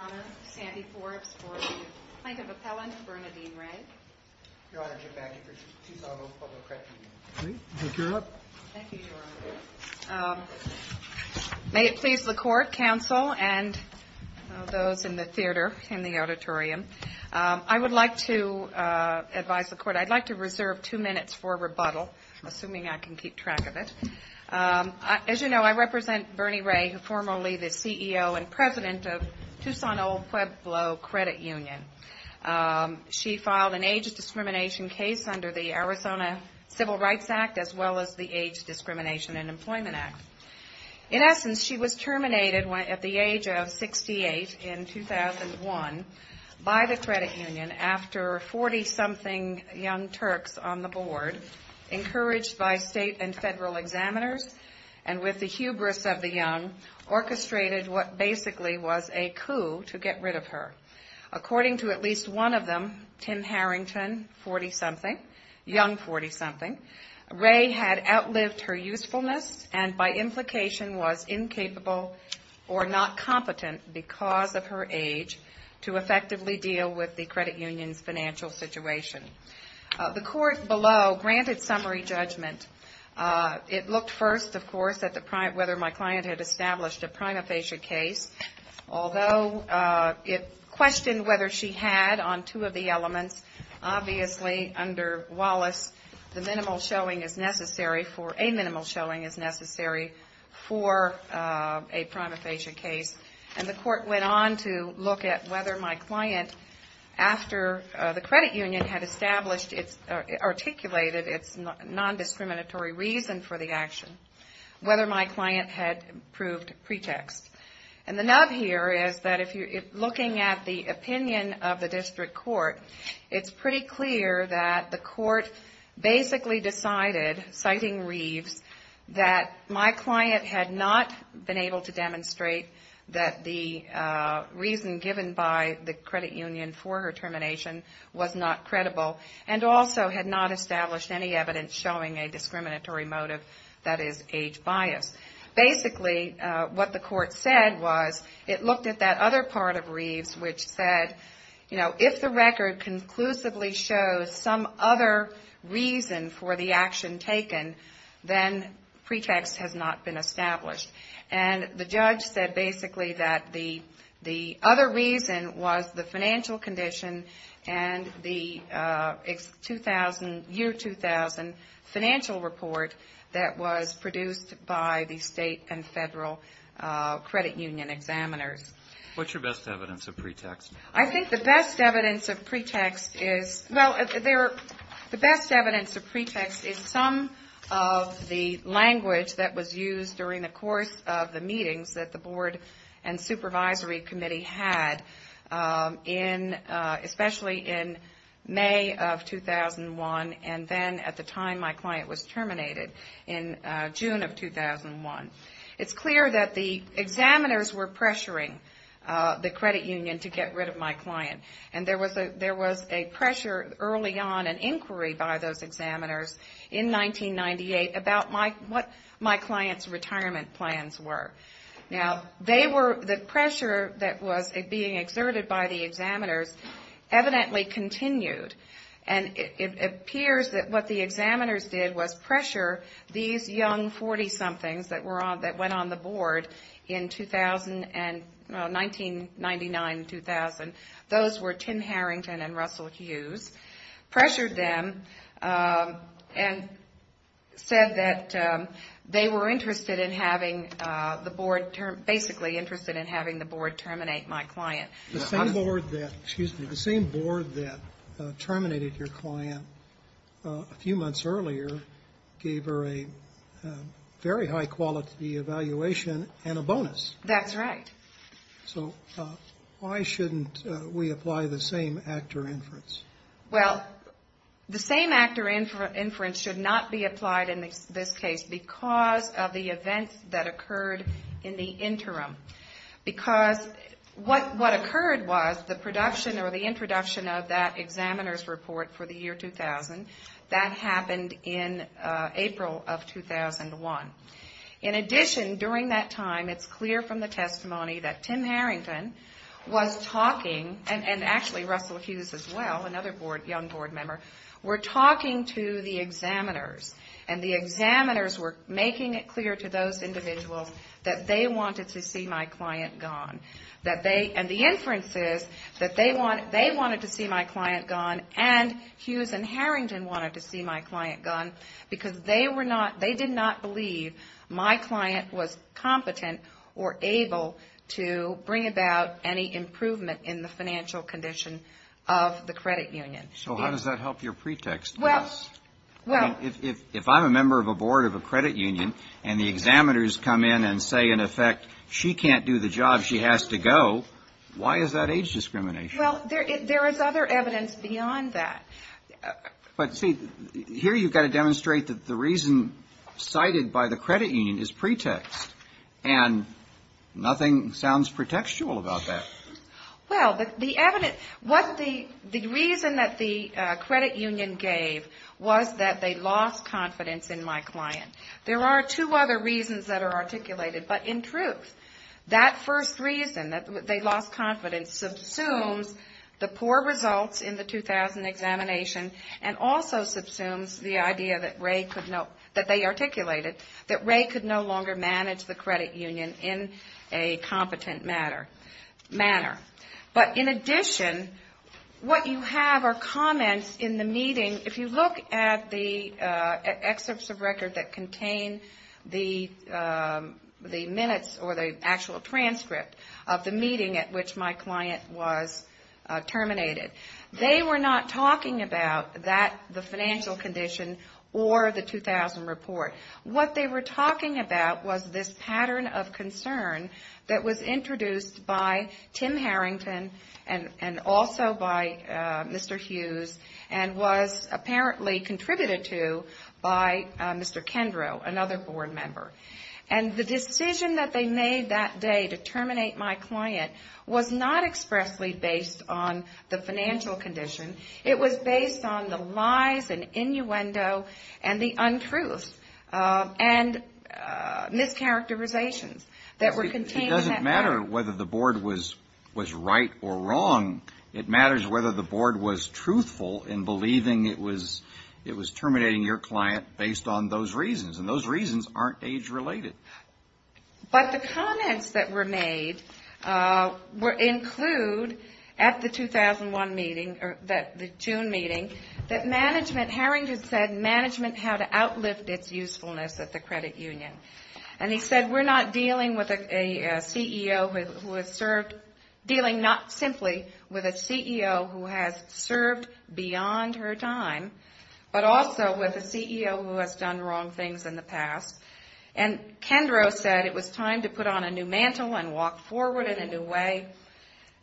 Your Honor, Sandy Forbes for plaintiff appellant, Bernadine Ray. Your Honor, Jim Mackey for TUCSON OLD PUEBLO CREDIT UNION. Thank you, Your Honor. May it please the Court, Counsel, and those in the theater, in the auditorium, I would like to advise the Court, I'd like to reserve two minutes for rebuttal, assuming I can keep track of it. As you know, I represent Bernie Ray, formerly the CEO and President of TUCSON OLD PUEBLO CREDIT UNION. She filed an age discrimination case under the Arizona Civil Rights Act, as well as the Age Discrimination and Employment Act. In essence, she was terminated at the age of 68 in 2001 by the credit union after 40-something young Turks on the board, encouraged by state and federal examiners, and with the hubris of the young, orchestrated what basically was a coup to get rid of her. According to at least one of them, Tim Harrington, 40-something, young 40-something, Ray had outlived her usefulness and by implication was incapable or not competent because of her age to effectively deal with the credit union's financial situation. The Court below granted summary judgment. It looked first, of course, at whether my client had established a prima facie case, although it questioned whether she had on two of the elements. Obviously, under Wallace, a minimal showing is necessary for a prima facie case, and the Court went on to look at whether my client, after the credit union had established, articulated its non-discriminatory reason for the action, whether my client had proved pretext. And the nub here is that looking at the opinion of the district court, it's pretty clear that the court basically decided, citing Reeves, that my client had not been able to demonstrate that the reason given by the credit union for her termination was not credible and also had not established any evidence showing a discriminatory motive that is age bias. Basically, what the Court said was it looked at that other part of Reeves, which said, you know, if the record conclusively shows some other reason for the action taken, then pretext has not been established. And the judge said basically that the other reason was the financial condition and the year 2000 financial report that was produced by the state and federal credit union examiners. I think the best evidence of pretext is some of the language that was used during the course of the meetings that the Board and Supervisory Committee had, especially in May of 2001, and then at the time my client was terminated in June of 2001. It's clear that the examiners were pressuring the credit union to get rid of my client, and there was a pressure early on, an inquiry by those examiners in 1998 about what my client's retirement plans were. Now, the pressure that was being exerted by the examiners evidently continued, and it appears that what the examiners did was pressure these young 40-somethings that went on the Board in 1999, 2000. Those were Tim Harrington and Russell Hughes, pressured them and said that they were interested in having the Board, basically interested in having the Board terminate my client. The fact that you terminated your client a few months earlier gave her a very high-quality evaluation and a bonus. That's right. So why shouldn't we apply the same actor inference? Well, the same actor inference should not be applied in this case because of the events that occurred in the interim, in this report for the year 2000 that happened in April of 2001. In addition, during that time, it's clear from the testimony that Tim Harrington was talking, and actually Russell Hughes as well, another young Board member, were talking to the examiners, and the examiners were making it clear to those individuals that they wanted to see my client gone. And the inference is that they wanted to see my client gone, and Hughes and Harrington wanted to see my client gone, because they did not believe my client was competent or able to bring about any improvement in the financial condition of the credit union. So how does that help your pretext? If I'm a member of a Board of a credit union and the examiners come in and say, in effect, she can't do the job, she has to go, why is that age discrimination? Well, there is other evidence beyond that. But see, here you've got to demonstrate that the reason cited by the credit union is pretext, and nothing sounds pretextual about that. Well, the reason that the credit union gave was that they lost confidence in my client. There are two other reasons that are articulated, but in truth, that first reason, that they lost confidence, subsumes the poor results in the 2000 examination, and also subsumes the idea that Ray could no longer manage the credit union in a competent manner. But in addition, what you have are comments in the meeting. If you look at the excerpts of record that contain the minutes or the actual transcript of the meeting at which my client was terminated, they were not talking about that, the financial condition, or the 2000 report. What they were talking about was this pattern of concern that was introduced by Tim Harris, and also by Mr. Hughes, and was apparently contributed to by Mr. Kendrow, another board member. And the decision that they made that day to terminate my client was not expressly based on the financial condition. It was based on the lies and innuendo and the untruths and mischaracterizations that were contained in that. It doesn't matter whether the board was right or wrong. It matters whether the board was truthful in believing it was terminating your client based on those reasons. And those reasons aren't age-related. But the comments that were made include, at the 2001 meeting, the June meeting, that management, Harrington said, management had to outlift its usefulness at the credit union. And he said, we're not dealing with a CEO who has served, dealing not simply with a CEO who has served beyond her time, but also with a CEO who has done wrong things in the past. And Kendrow said it was time to put on a new mantle and walk forward in a new way.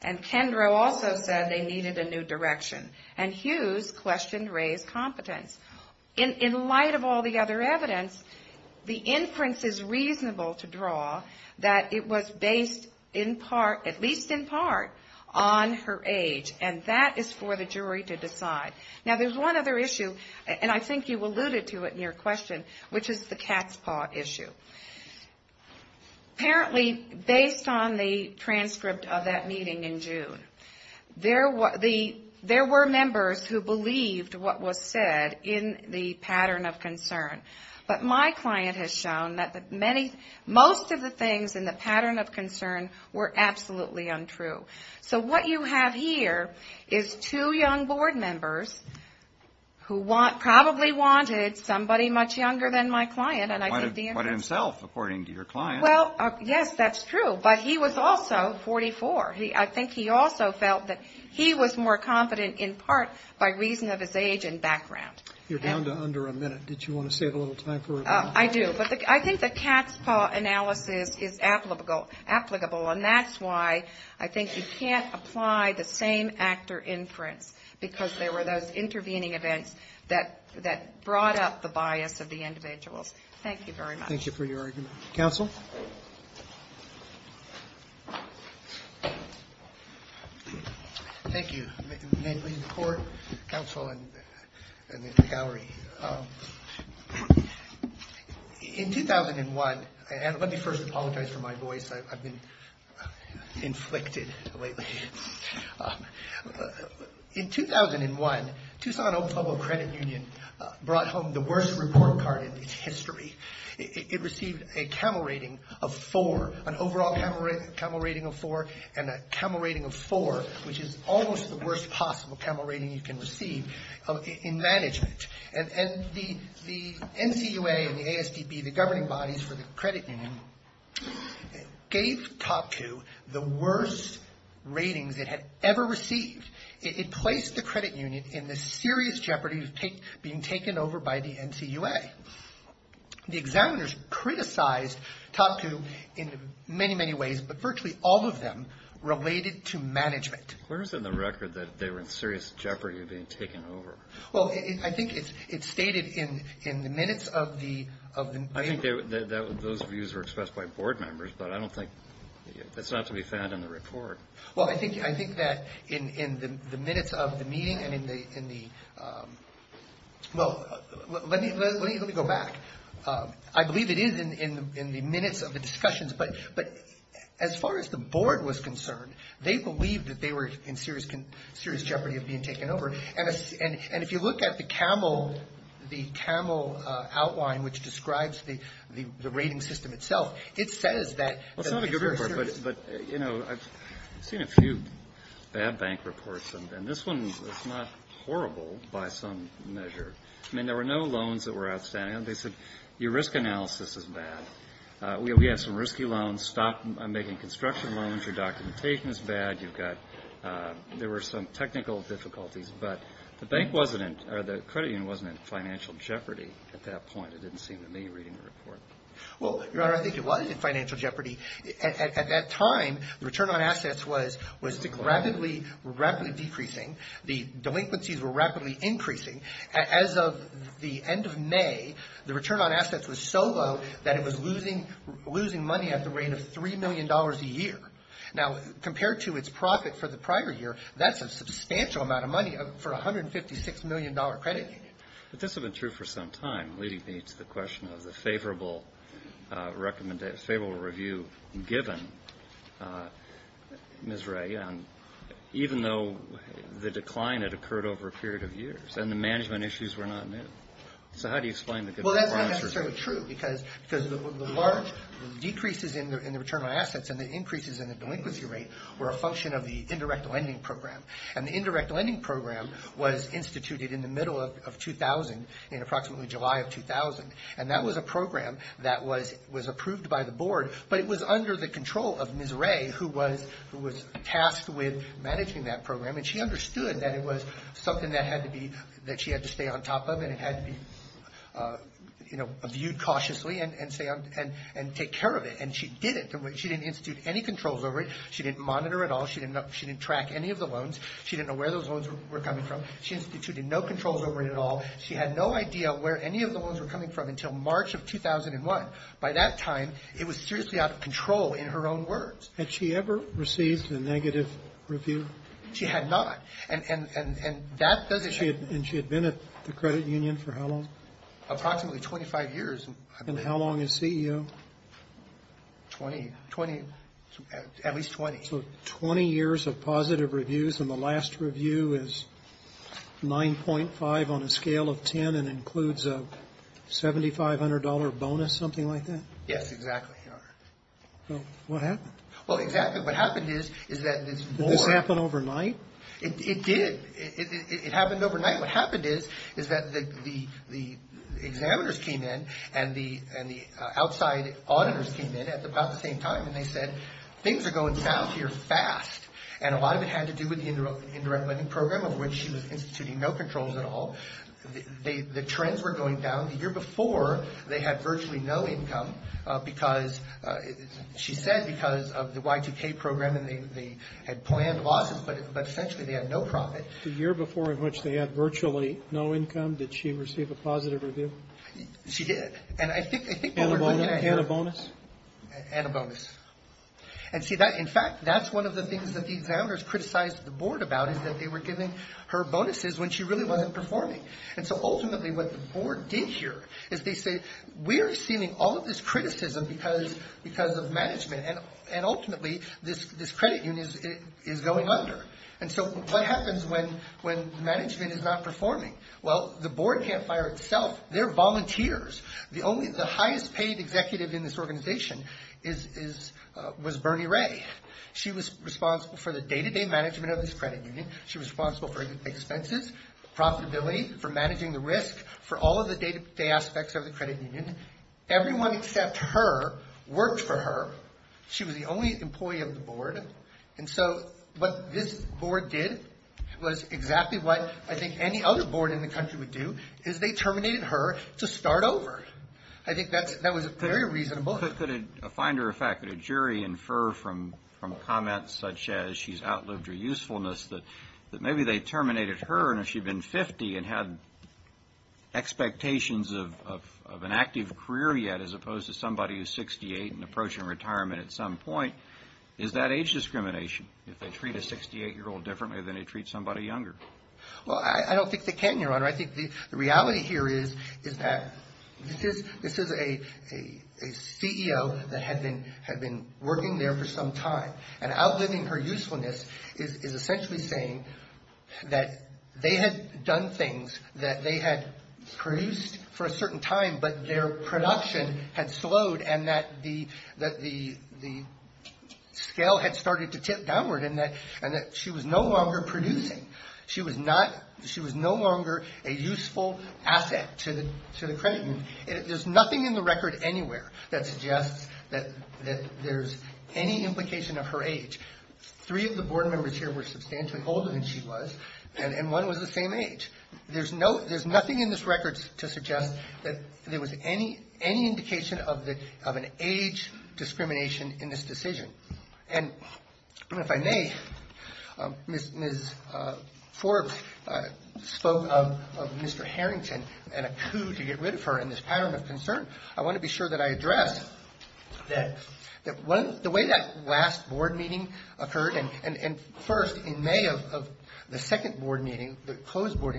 And Kendrow also said they needed a new direction. And Hughes questioned Ray's competence. In light of all the other evidence, the inference is reasonable to draw that it was based in part, at least in part, on her age. And that is for the jury to decide. Now, there's one other issue, and I think you alluded to it in your question, which is the cat's paw issue. Apparently, based on the transcript of that meeting in June, there were two issues. There were members who believed what was said in the pattern of concern. But my client has shown that most of the things in the pattern of concern were absolutely untrue. So what you have here is two young board members who probably wanted somebody much younger than my client. And I think the inference... I think the cat's paw analysis is applicable, and that's why I think you can't apply the same actor inference, because there were those intervening events that brought up the bias of the individuals. Thank you very much. Thank you for your argument. Thank you. Let me first apologize for my voice. I've been inflicted lately. In 2001, Tucson-Oklahoma Credit Union brought home the worst report card in its history. It received a camel rating of 4, an overall camel rating of 4, and a camel rating of 4, which is almost the worst possible camel rating you can receive in management. And the NCUA and the ASDB, the governing bodies for the credit union, gave TopCoup the worst ratings it had ever received. It placed the credit union in the serious jeopardy of being taken over by the NCUA. The examiners criticized TopCoup in many, many ways, but virtually all of them related to management. Where is it in the record that they were in serious jeopardy of being taken over? Well, I think it's stated in the minutes of the... I think those views were expressed by board members, but I don't think that's not to be found in the report. Well, I think that in the minutes of the meeting and in the... Well, let me go back. I believe it is in the minutes of the discussions, but as far as the board was concerned, they believed that they were in serious jeopardy of being taken over. And if you look at the camel outline, which describes the rating system itself, it says that... Well, it's not a good report, but, you know, I've seen a few bad bank reports, and this one is not horrible by some measure. I mean, there were no loans that were outstanding. They said your risk analysis is bad, we have some risky loans, stop making construction loans, your documentation is bad, you've got... There were some technical difficulties, but the credit union wasn't in financial jeopardy at that point. It didn't seem to me reading the report. Well, Your Honor, I think it was in financial jeopardy. At that time, the return on assets was rapidly decreasing, the delinquencies were rapidly increasing. As of the end of May, the return on assets was so low that it was losing money at the rate of $3 million a year. Now, compared to its profit for the prior year, that's a substantial amount of money for a $156 million credit union. But this had been true for some time, leading me to the question of the favorable review given, Ms. Ray, even though the decline had occurred over a period of years and the management issues were not new. So how do you explain the good performance? Well, that's not necessarily true, because the large decreases in the return on assets and the increases in the delinquency rate were a function of the indirect lending program. And the indirect lending program was instituted in the middle of 2000, in approximately July of 2000. And that was a program that was approved by the board, but it was under the control of Ms. Ray, who was tasked with managing that program. And she understood that it was something that she had to stay on top of and it had to be viewed cautiously and take care of it. And she did it. She didn't institute any controls over it. She didn't monitor at all. She didn't track any of the loans. She didn't know where those loans were coming from. She instituted no controls over it at all. She had no idea where any of the loans were coming from until March of 2001. By that time, it was seriously out of control in her own words. Had she ever received a negative review? She had not. And that doesn't... And she had been at the credit union for how long? Approximately 25 years. And how long as CEO? At least 20. So 20 years of positive reviews and the last review is 9.5 on a scale of 10 and includes a $7,500 bonus, something like that? Yes, exactly, Your Honor. What happened? Did this happen overnight? It did. It happened overnight. What happened is that the examiners came in and the outside auditors came in at about the same time and they said things are going south here fast. And a lot of it had to do with the indirect living program of which she was instituting no controls at all. The trends were going down. The year before, they had virtually no income because she said because of the Y2K program and they had planned losses, but essentially they had no profit. The year before in which they had virtually no income, did she receive a positive review? She did. And a bonus. And see, in fact, that's one of the things that the examiners criticized the board about is that they were giving her bonuses when she really wasn't performing. And so ultimately what the board did here is they said, we're seeing all of this criticism because of management and ultimately this credit union is going under. And so what happens when management is not performing? Well, the board can't fire itself. They're volunteers. The highest paid executive in this organization was Bernie Ray. She was responsible for the day-to-day management of this credit union. She was responsible for expenses, profitability, for managing the risk, for all of the day-to-day aspects of the credit union. Everyone except her worked for her. She was the only employee of the board. And so what this board did was exactly what I think any other board in the country would do is they terminated her to start over. I think that was very reasonable. Could a finder of fact, could a jury infer from comments such as she's outlived her usefulness that maybe they terminated her and if she'd been 50 and had expectations of an active career yet as opposed to somebody who's 68 and approaching retirement at some point, is that age discrimination if they treat a 68-year-old differently than they treat somebody younger? Well, I don't think they can, Your Honor. I think the reality here is that this is a CEO that had been working there for some time. And outliving her usefulness is essentially saying that they had done things that they had produced for a certain time but their production had slowed and that the scale had started to tip downward and that she was no longer producing. She was no longer a useful asset to the credit union. There's nothing in the record anywhere that suggests that there's any implication of her age. Three of the board members here were substantially older than she was and one was the same age. There's nothing in this record to suggest that there was any indication of an age discrimination in this decision. And if I may, Ms. Forbes spoke of Mr. Harrington and a coup to get rid of her in this pattern of concern. I want to be sure that I address that the way that last board meeting occurred and first in May of the second board meeting, the closed board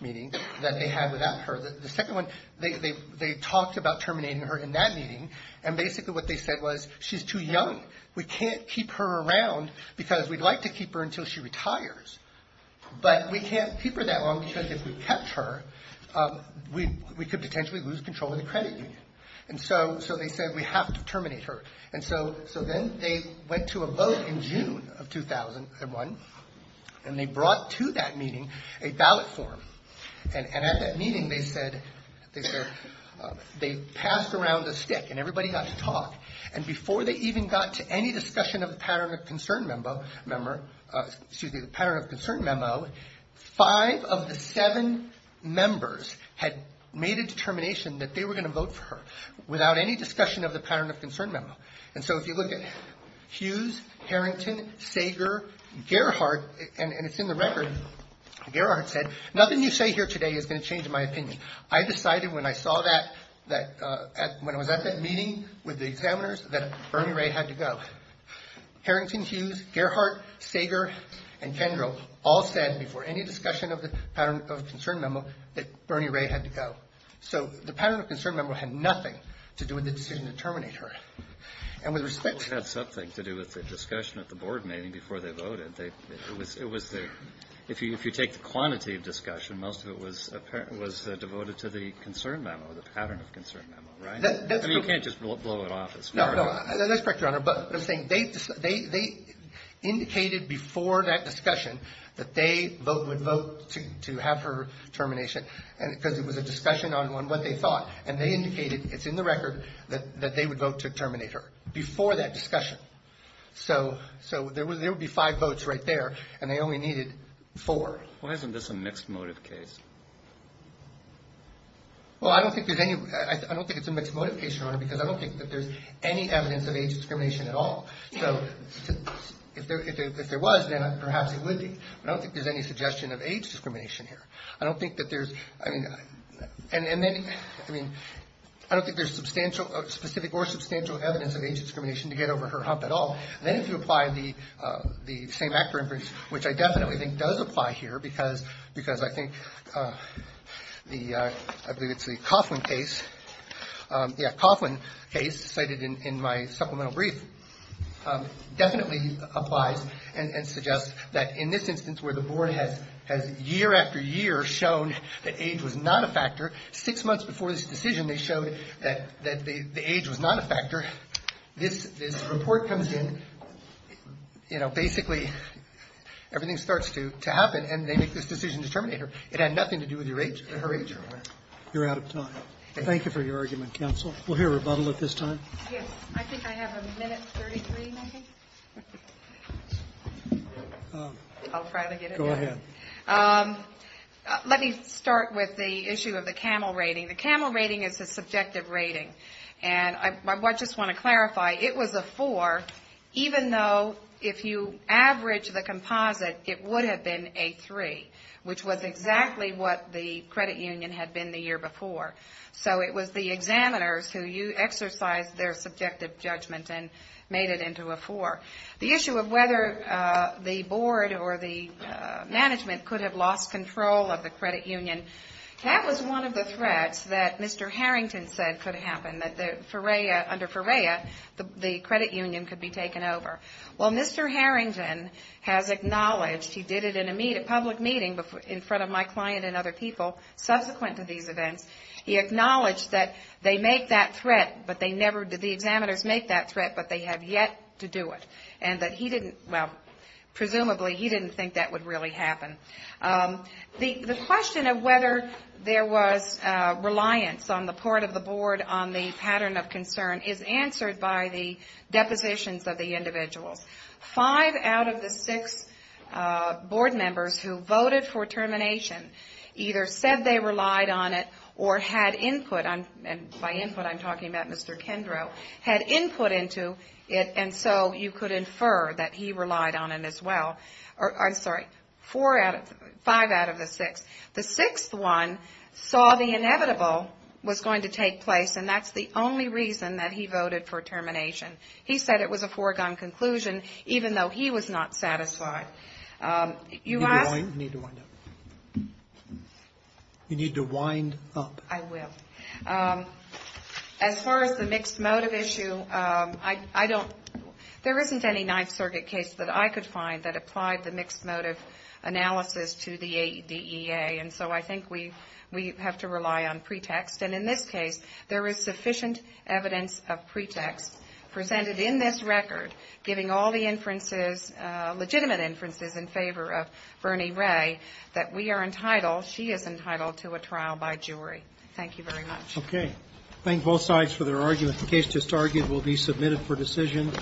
meeting that they had without her, the second one, they talked about terminating her in that meeting and basically what they said was she's too young. We can't keep her around because we'd like to keep her until she retires. But we can't keep her that long because if we kept her, we could potentially lose control of the credit union. And so they said we have to terminate her. And so then they went to a vote in June of 2001 and they brought to that meeting a ballot form. And at that meeting they passed around a stick and everybody got to talk. And before they even got to any discussion of the pattern of concern memo, five of the seven members had made a determination that they were going to vote for her without any discussion of the pattern of concern memo. And so if you look at Hughes, Harrington, Sager, Gerhardt, and it's in the record, Gerhardt said, nothing you say here today is going to change my opinion. I decided when I was at that meeting with the examiners that Bernie Ray had to go. Harrington, Hughes, Gerhardt, Sager, and Kendrell all said before any discussion of the pattern of concern memo that Bernie Ray had to go. So the pattern of concern memo had nothing to do with the decision to terminate her. And with respect to the discussion at the board meeting before they voted, if you take the quantity of discussion, most of it was devoted to the concern memo, the pattern of concern memo, right? I mean, you can't just blow it off. No, no, that's correct, Your Honor. But I'm saying they indicated before that discussion that they would vote to have her termination because it was a discussion on what they thought. And they indicated, it's in the record, that they would vote to terminate her before that discussion. So there would be five votes right there, and they only needed four. Well, isn't this a mixed motive case? Well, I don't think there's any, I don't think it's a mixed motive case, Your Honor, because I don't think that there's any evidence of age discrimination at all. So if there was, then perhaps it would be, but I don't think there's any suggestion of age discrimination here. I don't think that there's, I mean, and then, I mean, I don't think there's substantial, specific or substantial evidence of age discrimination to get over her hump at all. And then if you apply the same actor inference, which I definitely think does apply here because I think the, I believe it's the Coughlin case, yeah, Coughlin case cited in my supplemental brief, definitely applies and suggests that in this instance where the board has year after year shown that age was not a factor, six months before this decision they showed that the age was not a factor, this report comes in, you know, basically everything starts to happen, and they make this decision to terminate her. It had nothing to do with her age. You're out of time. Thank you for your argument, counsel. We'll hear rebuttal at this time. Yes, I think I have a minute 33, maybe. I'll try to get it. Go ahead. Let me start with the issue of the CAMEL rating. The CAMEL rating is a subjective rating, and I just want to clarify, it was a four, even though if you average the composite, it would have been a three, which was exactly what the credit union had been the year before. So it was the examiners who exercised their subjective judgment and made it into a four. The issue of whether the board or the management could have lost control of the credit union, that was one of the threats that Mr. Harrington said could happen, that under FOREA the credit union could be taken over. Well, Mr. Harrington has acknowledged, he did it in a public meeting in front of my client and other people subsequent to these events, he acknowledged that they make that threat, but they never, the examiners make that threat, but they have yet to do it, and that he didn't, well, presumably he didn't think that would really happen. The question of whether there was reliance on the part of the board on the pattern of concern is answered by the depositions of the individuals. Five out of the six board members who voted for termination either said they relied on it or had input, and by input I'm talking about Mr. Kendrow, had input into it, and so you could infer that he relied on it as well. I'm sorry, five out of the six. The sixth one saw the inevitable was going to take place, and that's the only reason that he voted for termination. He said it was a foregone conclusion, even though he was not satisfied. You asked? You need to wind up. You need to wind up. I will. As far as the mixed motive issue, I don't, there isn't any Ninth Circuit case that I could find that applied the mixed motive analysis to the DEA, and so I think we have to rely on pretext, and in this case there is sufficient evidence of pretext presented in this record giving all the inferences, legitimate inferences in favor of Bernie Ray that we are entitled, she is entitled to a trial by jury. Thank you very much. Okay. Thank both sides for their arguments. The case just argued will be submitted for decision.